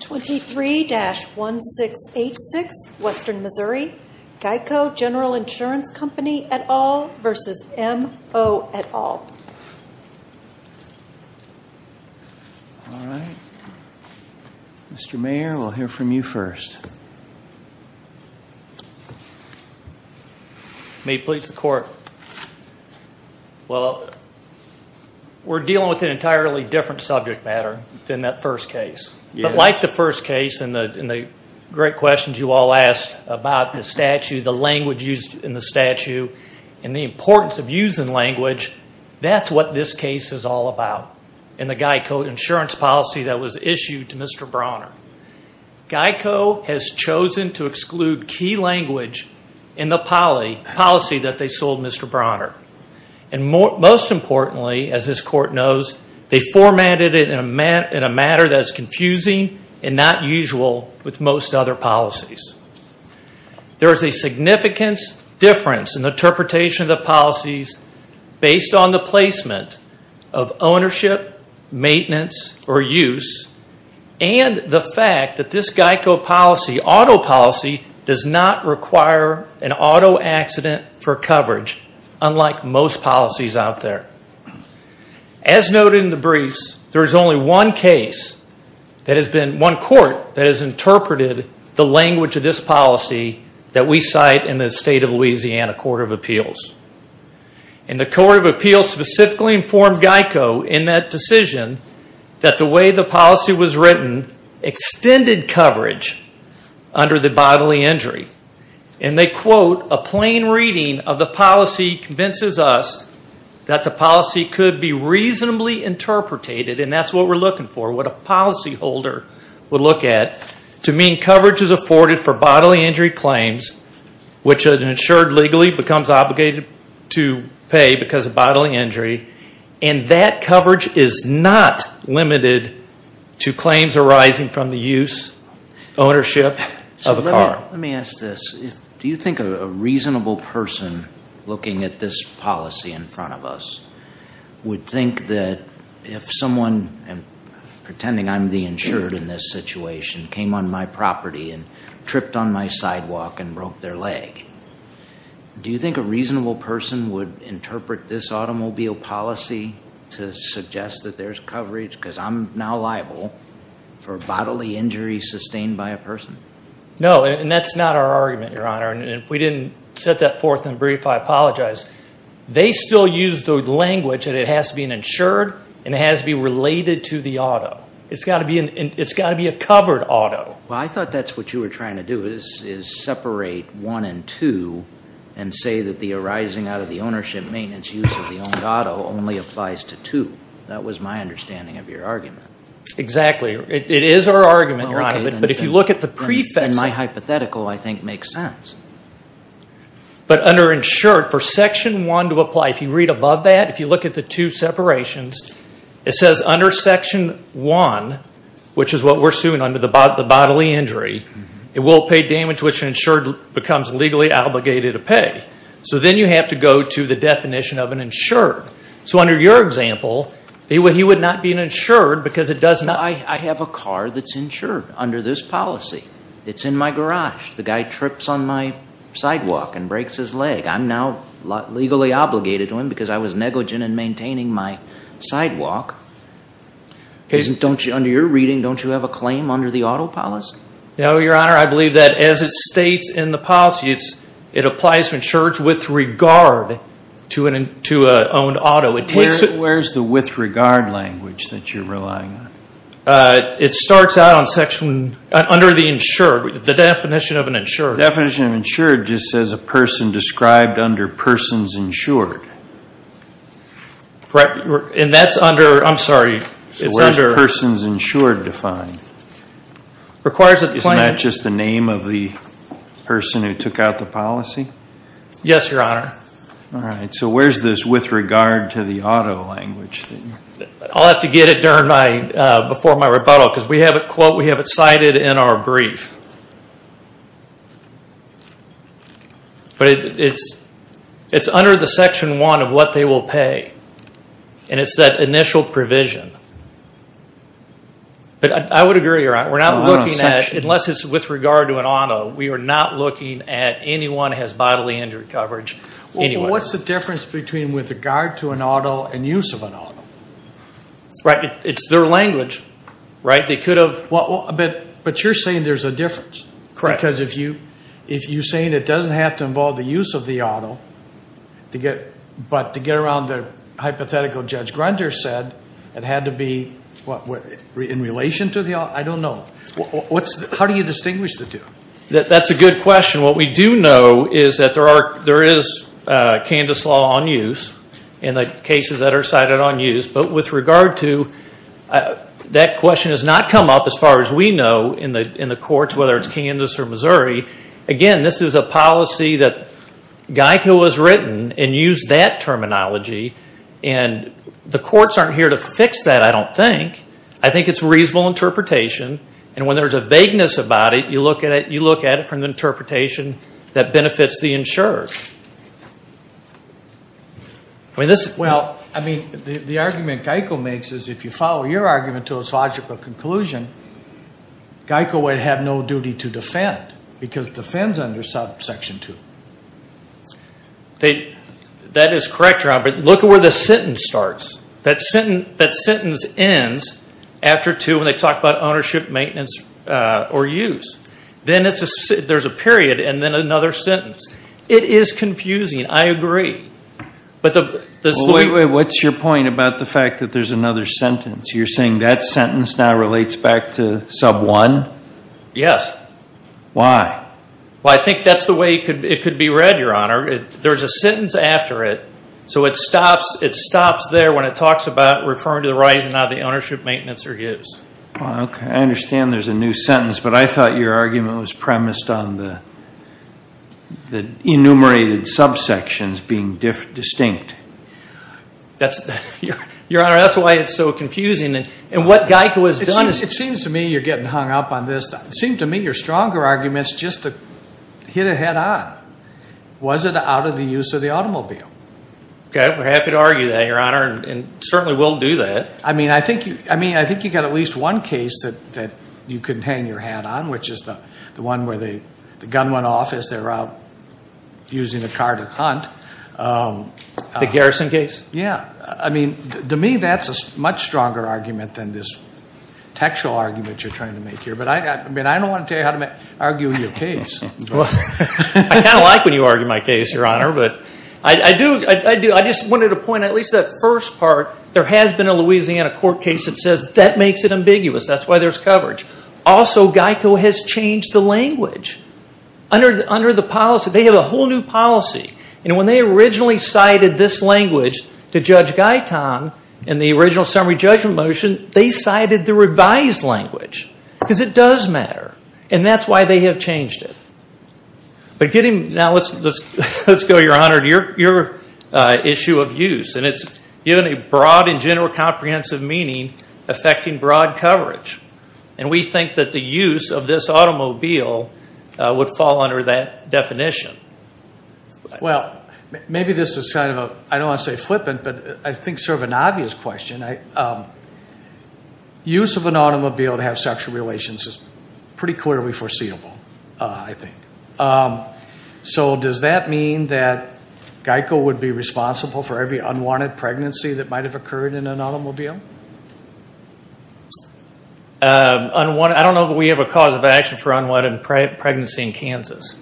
23-1686 Western Missouri GEICO General Insurance Company et al. v. M.O. et al. All right. Mr. Mayor, we'll hear from you first. Well, we're dealing with an entirely different subject matter than that first case. But like the first case and the great questions you all asked about the statute, the language used in the statute, and the importance of using language, that's what this case is all about in the GEICO insurance policy that was issued to Mr. Bronner. GEICO has chosen to exclude key language in the policy that they sold Mr. Bronner. And most importantly, as this court knows, they formatted it in a manner that is confusing and not usual with most other policies. There is a significant difference in the interpretation of the policies based on the placement of ownership, maintenance, or use, and the fact that this GEICO policy, auto policy, does not require an auto accident for coverage, unlike most policies out there. As noted in the briefs, there is only one case that has been, one court that has interpreted the language of this policy that we cite in the State of Louisiana Court of Appeals. And the Court of Appeals specifically informed GEICO in that decision that the way the policy was written extended coverage under the bodily injury. And they quote, a plain reading of the policy convinces us that the policy could be reasonably interpreted, and that's what we're looking for, what a policy holder would look at, to mean coverage is afforded for bodily injury claims, which an insured legally becomes obligated to pay because of bodily injury, and that coverage is not limited to claims arising from the use, ownership of a car. Let me ask this. Do you think a reasonable person looking at this policy in front of us would think that if someone, pretending I'm the insured in this situation, came on my property and tripped on my sidewalk and broke their leg, do you think a reasonable person would interpret this automobile policy to suggest that there's coverage because I'm now liable for bodily injury sustained by a person? No, and that's not our argument, Your Honor. And if we didn't set that forth in the brief, I apologize. They still use the language that it has to be an insured and it has to be related to the auto. It's got to be a covered auto. Well, I thought that's what you were trying to do is separate one and two and say that the arising out of the ownership, maintenance, use of the owned auto only applies to two. That was my understanding of your argument. Exactly. It is our argument, Your Honor, but if you look at the prefects. In my hypothetical, I think it makes sense. But under insured, for Section 1 to apply, if you read above that, if you look at the two separations, it says under Section 1, which is what we're suing under the bodily injury, it will pay damage which an insured becomes legally obligated to pay. So then you have to go to the definition of an insured. So under your example, he would not be an insured because it does not. I have a car that's insured under this policy. It's in my garage. The guy trips on my sidewalk and breaks his leg. I'm now legally obligated to him because I was negligent in maintaining my sidewalk. Under your reading, don't you have a claim under the auto policy? No, Your Honor. I believe that as it states in the policy, it applies to insured with regard to an owned auto. Where's the with regard language that you're relying on? It starts out under the insured, the definition of an insured. The definition of insured just says a person described under persons insured. And that's under, I'm sorry, it's under. So where's persons insured defined? It's not just the name of the person who took out the policy? Yes, Your Honor. All right. So where's this with regard to the auto language? I'll have to get it before my rebuttal because we have it cited in our brief. But it's under the Section 1 of what they will pay. And it's that initial provision. But I would agree, Your Honor, we're not looking at, unless it's with regard to an auto, we are not looking at anyone who has bodily injury coverage. What's the difference between with regard to an auto and use of an auto? Right. It's their language, right? They could have. But you're saying there's a difference. Correct. Because if you're saying it doesn't have to involve the use of the auto, but to get around the hypothetical Judge Grunder said it had to be, what, in relation to the auto? I don't know. How do you distinguish the two? That's a good question. What we do know is that there is CANDIS law on use in the cases that are cited on use. But with regard to that question has not come up as far as we know in the courts, whether it's CANDIS or Missouri. Again, this is a policy that GEICO has written and used that terminology. And the courts aren't here to fix that, I don't think. I think it's reasonable interpretation. And when there's a vagueness about it, you look at it from the interpretation that benefits the insurer. Well, I mean, the argument GEICO makes is if you follow your argument to its logical conclusion, GEICO would have no duty to defend because it defends under Section 2. That is correct, Robert. Look at where the sentence starts. That sentence ends after 2 when they talk about ownership, maintenance, or use. Then there's a period and then another sentence. It is confusing. I agree. What's your point about the fact that there's another sentence? You're saying that sentence now relates back to Sub 1? Yes. Why? Well, I think that's the way it could be read, Your Honor. There's a sentence after it, so it stops there when it talks about referring to the right and not the ownership, maintenance, or use. I understand there's a new sentence, but I thought your argument was premised on the enumerated subsections being distinct. Your Honor, that's why it's so confusing. And what GEICO has done is- It seems to me you're getting hung up on this. It seemed to me your stronger argument is just to hit it head on. Was it out of the use of the automobile? Okay. We're happy to argue that, Your Honor, and certainly we'll do that. I mean, I think you got at least one case that you couldn't hang your hat on, which is the one where the gun went off as they were out using the car to hunt. The garrison case? Yeah. I mean, to me, that's a much stronger argument than this textual argument you're trying to make here. But I don't want to tell you how to argue your case. I kind of like when you argue my case, Your Honor. But I just wanted to point out, at least that first part, there has been a Louisiana court case that says that makes it ambiguous. That's why there's coverage. Also, GEICO has changed the language under the policy. They have a whole new policy. And when they originally cited this language to Judge Guyton in the original summary judgment motion, they cited the revised language because it does matter. And that's why they have changed it. Now, let's go, Your Honor, to your issue of use. And it's given a broad and general comprehensive meaning affecting broad coverage. And we think that the use of this automobile would fall under that definition. Well, maybe this is kind of a, I don't want to say flippant, but I think sort of an obvious question. Use of an automobile to have sexual relations is pretty clearly foreseeable, I think. So does that mean that GEICO would be responsible for every unwanted pregnancy that might have occurred in an automobile? I don't know that we have a cause of action for unwanted pregnancy in Kansas.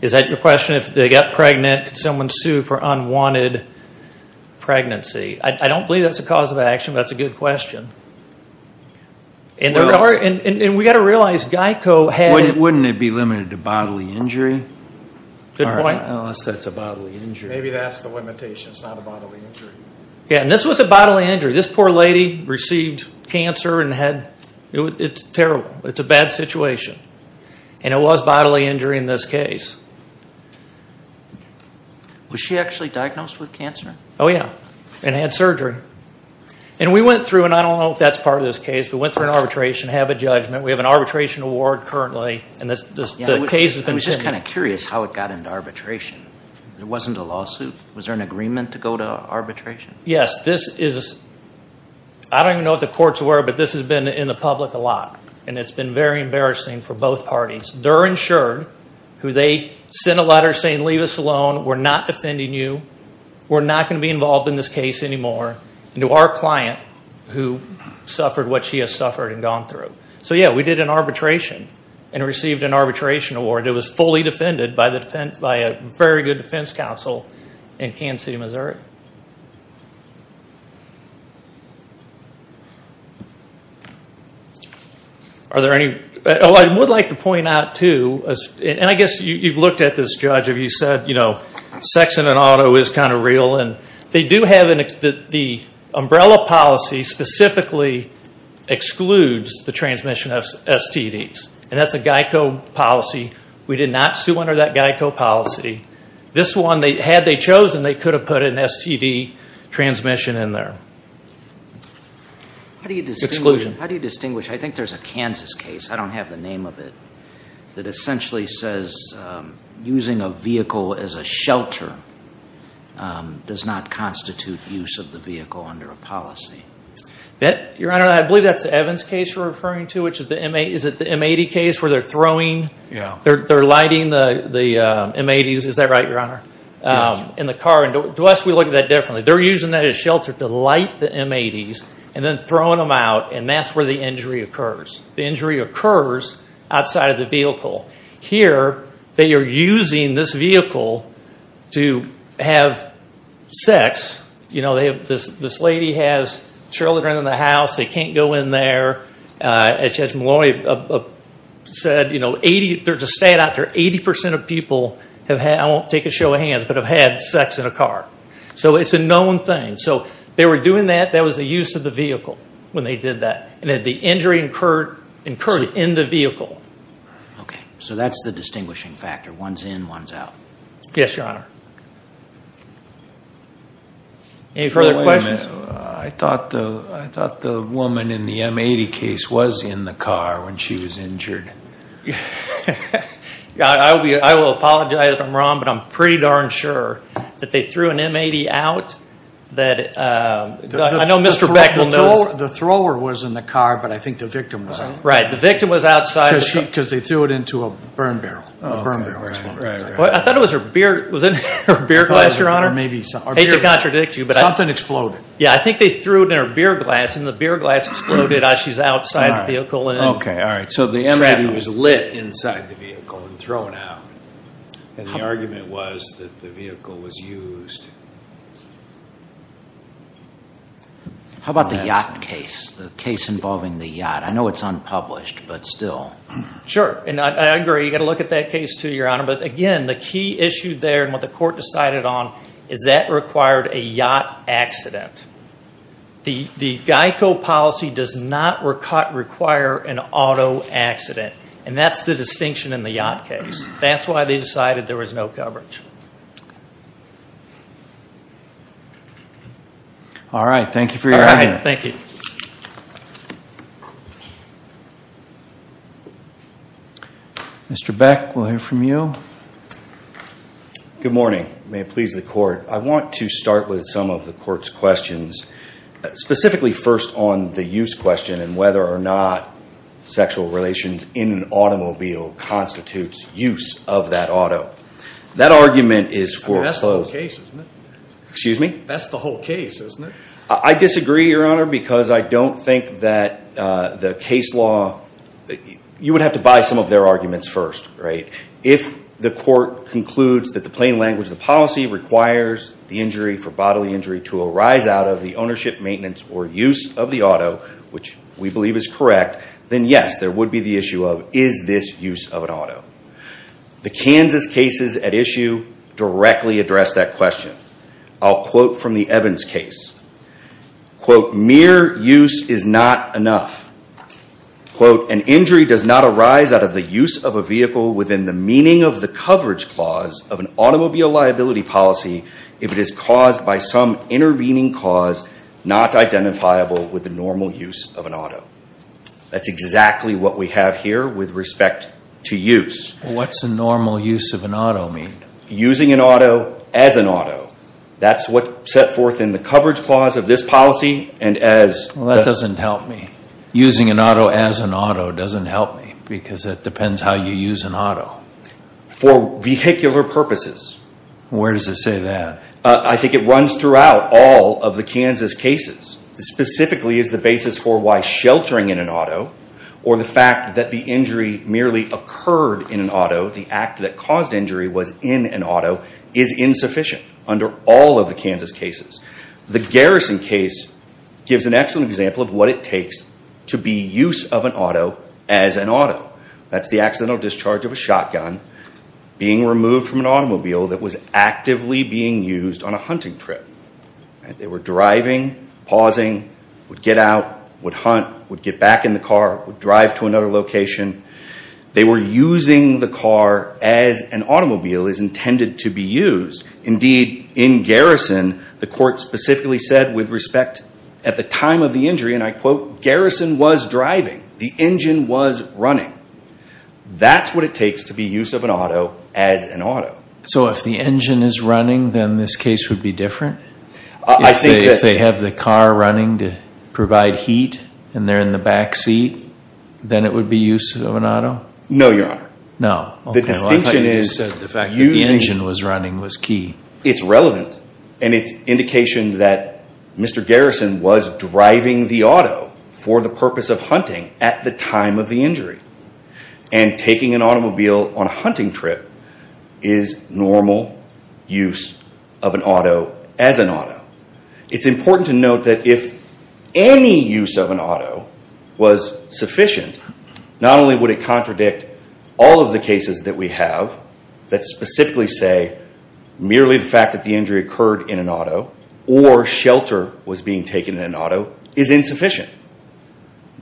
Is that your question? If they get pregnant, could someone sue for unwanted pregnancy? I don't believe that's a cause of action, but that's a good question. And we've got to realize GEICO had – Wouldn't it be limited to bodily injury? Good point. Unless that's a bodily injury. Maybe that's the limitation. It's not a bodily injury. Yeah, and this was a bodily injury. This poor lady received cancer and had – it's terrible. It's a bad situation. And it was bodily injury in this case. Was she actually diagnosed with cancer? Oh, yeah, and had surgery. And we went through, and I don't know if that's part of this case, but we went through an arbitration, have a judgment. We have an arbitration award currently, and the case has been – I was just kind of curious how it got into arbitration. It wasn't a lawsuit. Was there an agreement to go to arbitration? Yes, this is – I don't even know if the courts were, but this has been in the public a lot, and it's been very embarrassing for both parties. They're insured, who they sent a letter saying, leave us alone. We're not defending you. We're not going to be involved in this case anymore. And to our client, who suffered what she has suffered and gone through. So, yeah, we did an arbitration and received an arbitration award. It was fully defended by a very good defense counsel in Kansas City, Missouri. Are there any – oh, I would like to point out, too, and I guess you've looked at this, Judge, if you said sex in an auto is kind of real. And they do have – the umbrella policy specifically excludes the transmission of STDs. And that's a GEICO policy. We did not sue under that GEICO policy. This one, had they chosen, they could have put an STD transmission in there. Exclusion. How do you distinguish – I think there's a Kansas case, I don't have the name of it, that essentially says using a vehicle as a shelter does not constitute use of the vehicle under a policy. Your Honor, I believe that's the Evans case you're referring to, which is the – is it the M80 case where they're throwing – Yeah. Is that right, Your Honor? Yes. In the car. To us, we look at that differently. They're using that as shelter to light the M80s and then throwing them out, and that's where the injury occurs. The injury occurs outside of the vehicle. Here, they are using this vehicle to have sex. This lady has children in the house. They can't go in there. As Judge Maloney said, you know, 80 – there's a stat out there, 80% of people have had – I won't take a show of hands, but have had sex in a car. So it's a known thing. So they were doing that. That was the use of the vehicle when they did that, and that the injury occurred in the vehicle. Okay. So that's the distinguishing factor. One's in, one's out. Yes, Your Honor. Any further questions? I thought the woman in the M80 case was in the car when she was injured. I will apologize if I'm wrong, but I'm pretty darn sure that they threw an M80 out. I know Mr. Beck will know this. The thrower was in the car, but I think the victim was in it. Right. The victim was outside. Because they threw it into a burn barrel. Was it her beer glass, Your Honor? I hate to contradict you. Something exploded. Yeah, I think they threw it in her beer glass, and the beer glass exploded as she's outside the vehicle. Okay, all right. So the M80 was lit inside the vehicle and thrown out, and the argument was that the vehicle was used. How about the yacht case, the case involving the yacht? I know it's unpublished, but still. Sure. And I agree. You've got to look at that case too, Your Honor. But again, the key issue there and what the court decided on is that required a yacht accident. The GEICO policy does not require an auto accident, and that's the distinction in the yacht case. That's why they decided there was no coverage. All right, thank you for your time. All right, thank you. Thank you. Mr. Beck, we'll hear from you. Good morning. May it please the court. I want to start with some of the court's questions, specifically first on the use question and whether or not sexual relations in an automobile constitutes use of that auto. That argument is foreclosed. I mean, that's the whole case, isn't it? Excuse me? That's the whole case, isn't it? I disagree, Your Honor, because I don't think that the case law – you would have to buy some of their arguments first, right? If the court concludes that the plain language of the policy requires the injury for bodily injury to arise out of the ownership, maintenance, or use of the auto, which we believe is correct, then yes, there would be the issue of, is this use of an auto? The Kansas cases at issue directly address that question. I'll quote from the Evans case. Quote, mere use is not enough. Quote, an injury does not arise out of the use of a vehicle within the meaning of the coverage clause of an automobile liability policy if it is caused by some intervening cause not identifiable with the normal use of an auto. That's exactly what we have here with respect to use. What's the normal use of an auto mean? Using an auto as an auto. That's what's set forth in the coverage clause of this policy and as – Well, that doesn't help me. Using an auto as an auto doesn't help me because it depends how you use an auto. For vehicular purposes. Where does it say that? I think it runs throughout all of the Kansas cases. Specifically, it's the basis for why sheltering in an auto or the fact that the injury merely occurred in an auto, the act that caused injury was in an auto, is insufficient under all of the Kansas cases. The Garrison case gives an excellent example of what it takes to be use of an auto as an auto. That's the accidental discharge of a shotgun being removed from an automobile that was actively being used on a hunting trip. They were driving, pausing, would get out, would hunt, would get back in the car, would drive to another location. They were using the car as an automobile is intended to be used. Indeed, in Garrison, the court specifically said with respect at the time of the injury, and I quote, Garrison was driving. The engine was running. That's what it takes to be use of an auto as an auto. So if the engine is running, then this case would be different? If they have the car running to provide heat and they're in the backseat, then it would be use of an auto? No, Your Honor. No. I thought you just said the fact that the engine was running was key. It's relevant, and it's indication that Mr. Garrison was driving the auto for the purpose of hunting at the time of the injury. And taking an automobile on a hunting trip is normal use of an auto as an auto. It's important to note that if any use of an auto was sufficient, not only would it contradict all of the cases that we have that specifically say merely the fact that the injury occurred in an auto or shelter was being taken in an auto is insufficient.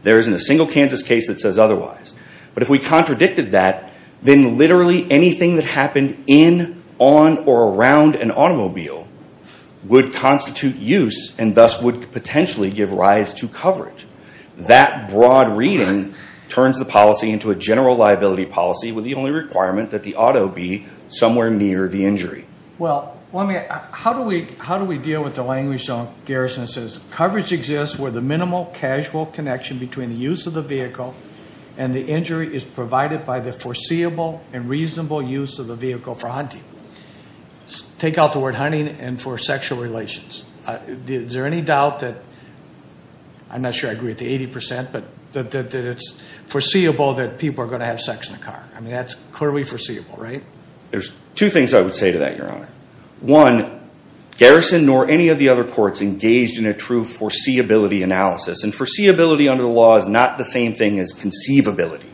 There isn't a single Kansas case that says otherwise. But if we contradicted that, then literally anything that happened in, on, or around an automobile would constitute use and thus would potentially give rise to coverage. That broad reading turns the policy into a general liability policy with the only requirement that the auto be somewhere near the injury. Well, how do we deal with the language that Garrison says? Coverage exists where the minimal casual connection between the use of the vehicle and the injury is provided by the foreseeable and reasonable use of the vehicle for hunting. Take out the word hunting and for sexual relations. Is there any doubt that, I'm not sure I agree with the 80%, but that it's foreseeable that people are going to have sex in the car? I mean, that's clearly foreseeable, right? There's two things I would say to that, Your Honor. One, Garrison nor any of the other courts engaged in a true foreseeability analysis. And foreseeability under the law is not the same thing as conceivability.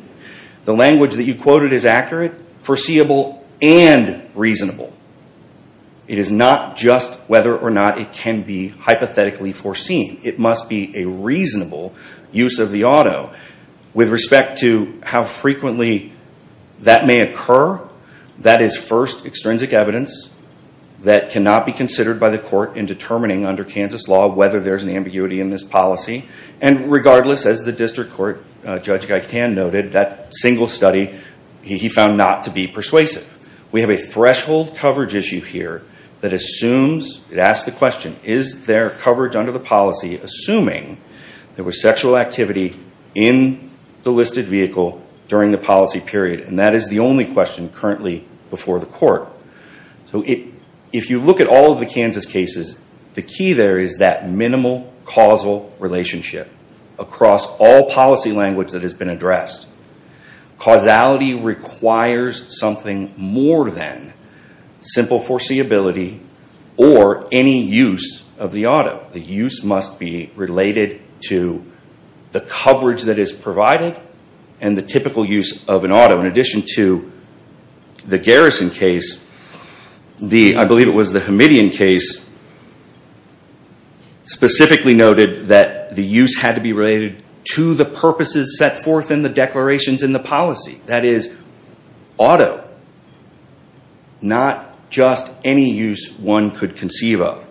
The language that you quoted is accurate, foreseeable, and reasonable. It is not just whether or not it can be hypothetically foreseen. It must be a reasonable use of the auto. With respect to how frequently that may occur, that is first extrinsic evidence that cannot be considered by the court in determining under Kansas law whether there's an ambiguity in this policy. And regardless, as the district court, Judge Gaitan noted, that single study he found not to be persuasive. We have a threshold coverage issue here that assumes, it asks the question, is there coverage under the policy assuming there was sexual activity in the listed vehicle during the policy period? And that is the only question currently before the court. So if you look at all of the Kansas cases, the key there is that minimal causal relationship across all policy language that has been addressed. Causality requires something more than simple foreseeability or any use of the auto. The use must be related to the coverage that is provided and the typical use of an auto. In addition to the Garrison case, I believe it was the Hamidian case, specifically noted that the use had to be related to the purposes set forth in the declarations in the policy. That is, auto. Not just any use one could conceive of.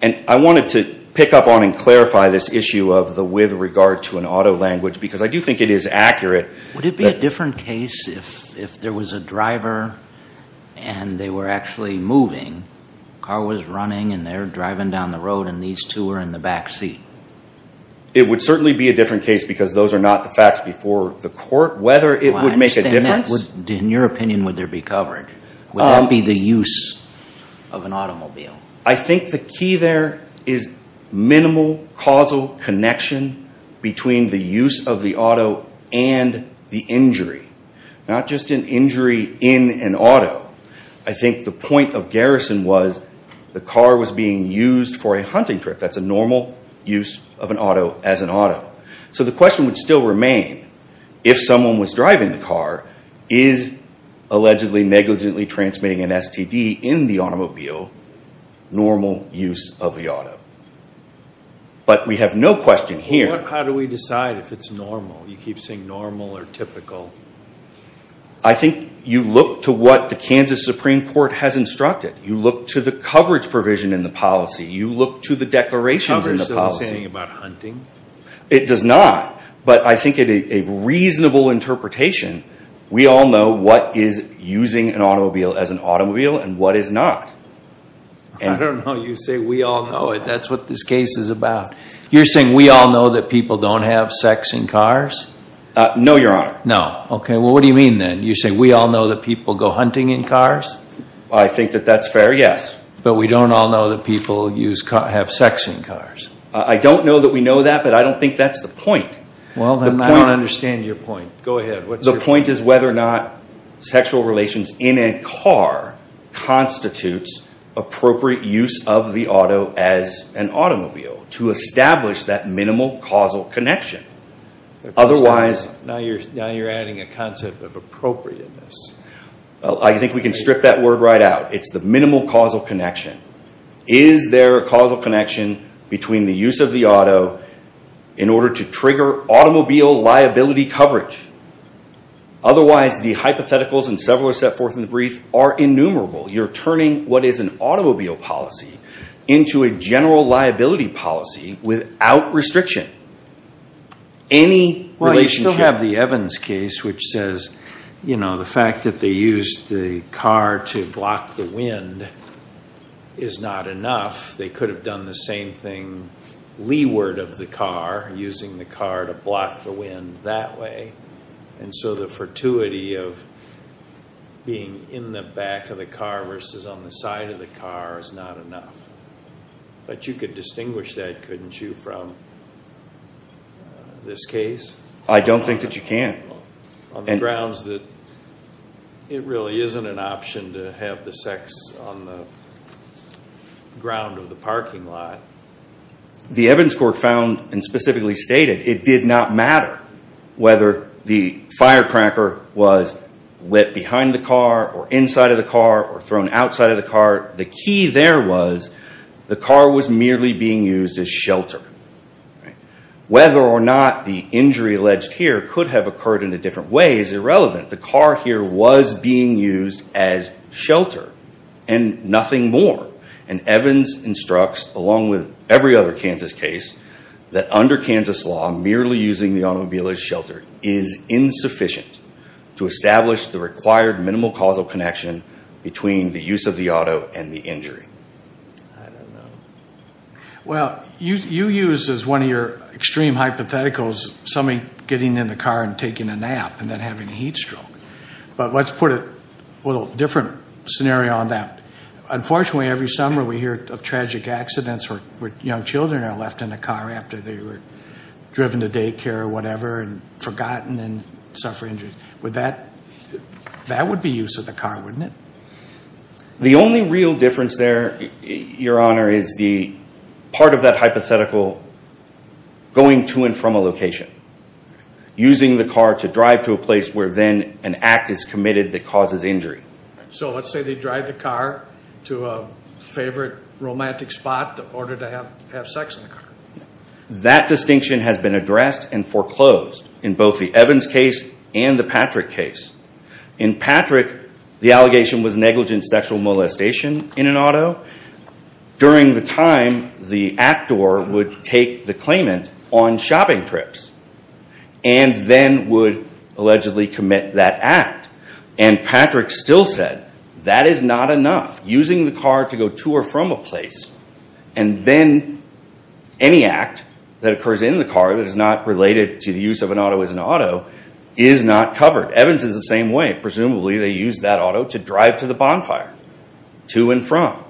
And I wanted to pick up on and clarify this issue of the with regard to an auto language because I do think it is accurate. Would it be a different case if there was a driver and they were actually moving? The car was running and they were driving down the road and these two were in the back seat. It would certainly be a different case because those are not the facts before the court. Whether it would make a difference. In your opinion, would there be coverage? Would that be the use of an automobile? I think the key there is minimal causal connection between the use of the auto and the injury. Not just an injury in an auto. I think the point of Garrison was the car was being used for a hunting trip. That's a normal use of an auto as an auto. So the question would still remain, if someone was driving the car, is allegedly negligently transmitting an STD in the automobile normal use of the auto? But we have no question here. How do we decide if it's normal? You keep saying normal or typical. I think you look to what the Kansas Supreme Court has instructed. You look to the coverage provision in the policy. You look to the declarations in the policy. Coverage doesn't say anything about hunting. It does not. But I think a reasonable interpretation, we all know what is using an automobile as an automobile and what is not. I don't know you say we all know it. That's what this case is about. You're saying we all know that people don't have sex in cars? No, Your Honor. No, okay. Well, what do you mean then? You say we all know that people go hunting in cars? I think that that's fair, yes. But we don't all know that people have sex in cars. I don't know that we know that, but I don't think that's the point. Well, then I don't understand your point. Go ahead. The point is whether or not sexual relations in a car constitutes appropriate use of the auto as an automobile to establish that minimal causal connection. Now you're adding a concept of appropriateness. I think we can strip that word right out. It's the minimal causal connection. Is there a causal connection between the use of the auto in order to trigger automobile liability coverage? Otherwise, the hypotheticals, and several are set forth in the brief, are innumerable. You're turning what is an automobile policy into a general liability policy without restriction. Well, you still have the Evans case, which says the fact that they used the car to block the wind is not enough. They could have done the same thing leeward of the car, using the car to block the wind that way. And so the fortuity of being in the back of the car versus on the side of the car is not enough. But you could distinguish that, couldn't you, from this case? I don't think that you can. On the grounds that it really isn't an option to have the sex on the ground of the parking lot. The Evans court found, and specifically stated, it did not matter whether the firecracker was lit behind the car, or inside of the car, or thrown outside of the car. The key there was the car was merely being used as shelter. Whether or not the injury alleged here could have occurred in a different way is irrelevant. The car here was being used as shelter, and nothing more. And Evans instructs, along with every other Kansas case, that under Kansas law, merely using the automobile as shelter is insufficient to establish the required minimal causal connection between the use of the auto and the injury. I don't know. Well, you use as one of your extreme hypotheticals somebody getting in the car and taking a nap, and then having a heat stroke. But let's put a little different scenario on that. Unfortunately, every summer we hear of tragic accidents where young children are left in a car after they were driven to daycare or whatever, and forgotten, and suffer injuries. That would be use of the car, wouldn't it? The only real difference there, Your Honor, is part of that hypothetical going to and from a location. Using the car to drive to a place where then an act is committed that causes injury. So let's say they drive the car to a favorite romantic spot in order to have sex in the car. That distinction has been addressed and foreclosed in both the Evans case and the Patrick case. In Patrick, the allegation was negligent sexual molestation in an auto. During the time, the actor would take the claimant on shopping trips and then would allegedly commit that act. Patrick still said that is not enough. Using the car to go to or from a place and then any act that occurs in the car that is not related to the use of an auto as an auto is not covered. Evans is the same way. Presumably they used that auto to drive to the bonfire, to and from.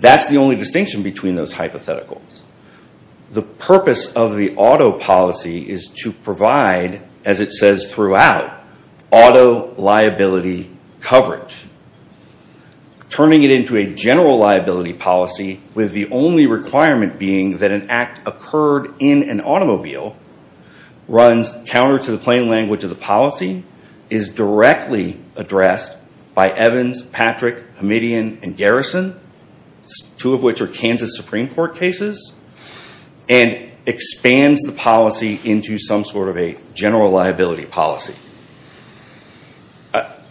That's the only distinction between those hypotheticals. The purpose of the auto policy is to provide, as it says throughout, auto liability coverage. Turning it into a general liability policy with the only requirement being that an act occurred in an automobile runs counter to the plain language of the policy, is directly addressed by Evans, Patrick, Hamidian, and Garrison, two of which are Kansas Supreme Court cases, and expands the policy into some sort of a general liability policy.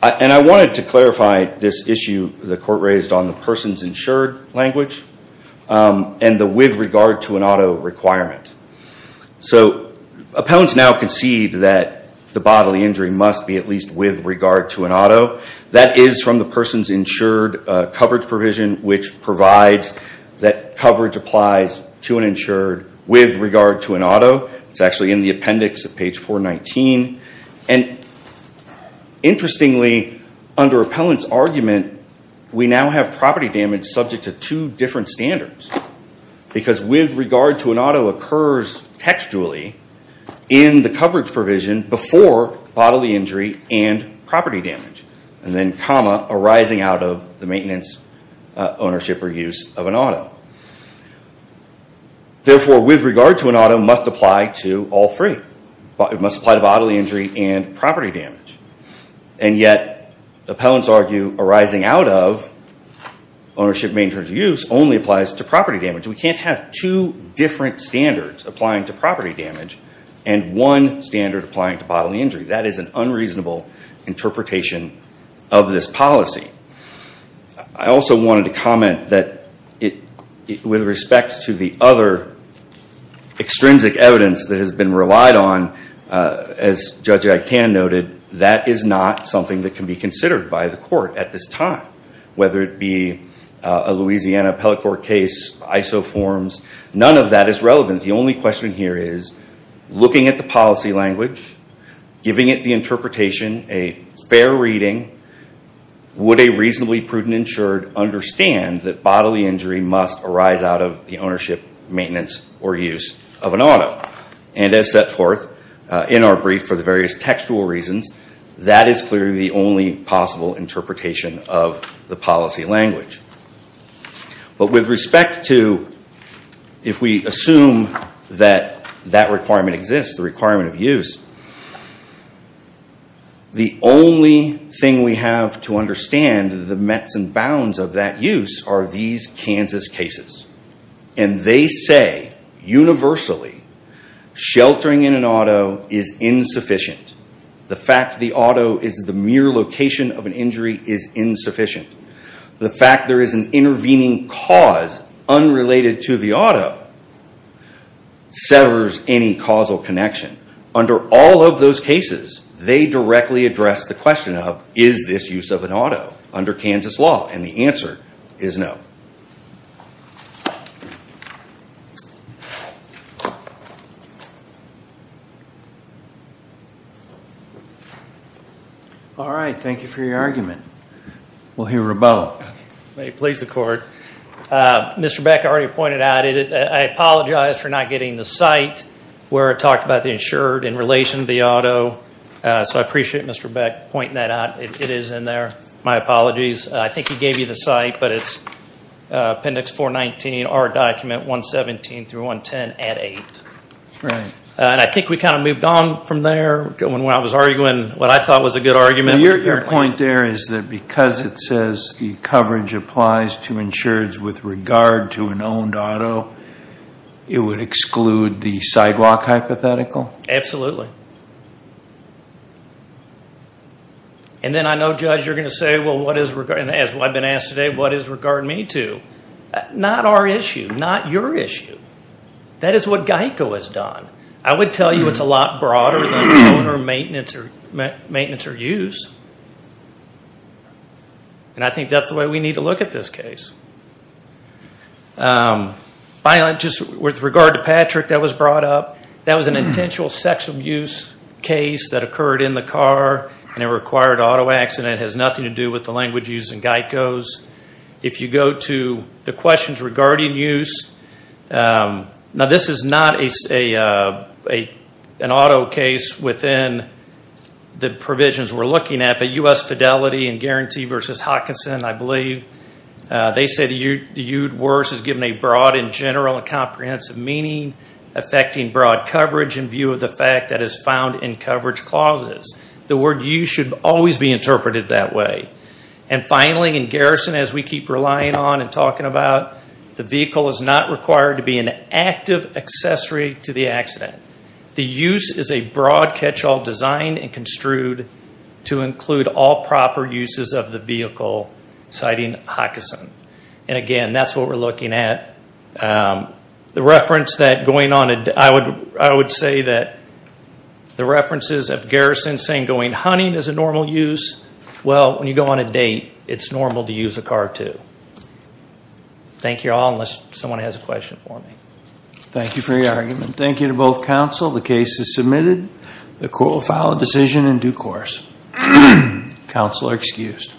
I wanted to clarify this issue the court raised on the person's insured language and the with regard to an auto requirement. Appellants now concede that the bodily injury must be at least with regard to an auto. That is from the person's insured coverage provision, which provides that coverage applies to an insured with regard to an auto. It's actually in the appendix at page 419. Interestingly, under appellant's argument, we now have property damage subject to two different standards. Because with regard to an auto occurs textually in the coverage provision before bodily injury and property damage. And then comma arising out of the maintenance, ownership, or use of an auto. Therefore, with regard to an auto must apply to all three. It must apply to bodily injury and property damage. And yet, appellants argue arising out of ownership, maintenance, or use only applies to property damage. We can't have two different standards applying to property damage and one standard applying to bodily injury. That is an unreasonable interpretation of this policy. I also wanted to comment that with respect to the other extrinsic evidence that has been relied on, as Judge Agtan noted, that is not something that can be considered by the court at this time. Whether it be a Louisiana appellate court case, ISO forms, none of that is relevant. The only question here is looking at the policy language, giving it the interpretation, a fair reading, would a reasonably prudent insured understand that bodily injury must arise out of the ownership, maintenance, or use of an auto? And as set forth in our brief for the various textual reasons, that is clearly the only possible interpretation of the policy language. But with respect to, if we assume that that requirement exists, the requirement of use, the only thing we have to understand the mets and bounds of that use are these Kansas cases. And they say, universally, sheltering in an auto is insufficient. The fact that the auto is the mere location of an injury is insufficient. The fact there is an intervening cause unrelated to the auto severs any causal connection. Under all of those cases, they directly address the question of, is this use of an auto under Kansas law? And the answer is no. Thank you. All right. Thank you for your argument. We'll hear a vote. May it please the court. Mr. Beck already pointed out, I apologize for not getting the site where it talked about the insured in relation to the auto. So I appreciate Mr. Beck pointing that out. It is in there. My apologies. I think he gave you the site, but it's appendix 419, R document 117 through 110 at 8. Right. And I think we kind of moved on from there, going where I was arguing what I thought was a good argument. Your point there is that because it says the coverage applies to insureds with regard to an owned auto, it would exclude the sidewalk hypothetical? Absolutely. Absolutely. And then I know, Judge, you're going to say, well, what is regard, and as I've been asked today, what is regard me to? Not our issue. Not your issue. That is what GEICO has done. I would tell you it's a lot broader than owner maintenance or use. And I think that's the way we need to look at this case. Just with regard to Patrick, that was brought up. That was an intentional sexual abuse case that occurred in the car, and it required an auto accident. It has nothing to do with the language used in GEICO's. If you go to the questions regarding use, now this is not an auto case within the provisions we're looking at, but U.S. Fidelity and Guarantee v. Hopkinson, I believe, they say the used words is given a broad and general and comprehensive meaning affecting broad coverage in view of the fact that is found in coverage clauses. The word used should always be interpreted that way. And finally, in garrison, as we keep relying on and talking about, the vehicle is not required to be an active accessory to the accident. The use is a broad catch-all designed and construed to include all proper uses of the vehicle, citing Hopkinson. And again, that's what we're looking at. The reference that going on a date, I would say that the references of garrison saying going hunting is a normal use, well, when you go on a date, it's normal to use a car too. Thank you all, unless someone has a question for me. Thank you for your argument. Thank you to both counsel. The case is submitted. The court will file a decision in due course. Counsel are excused.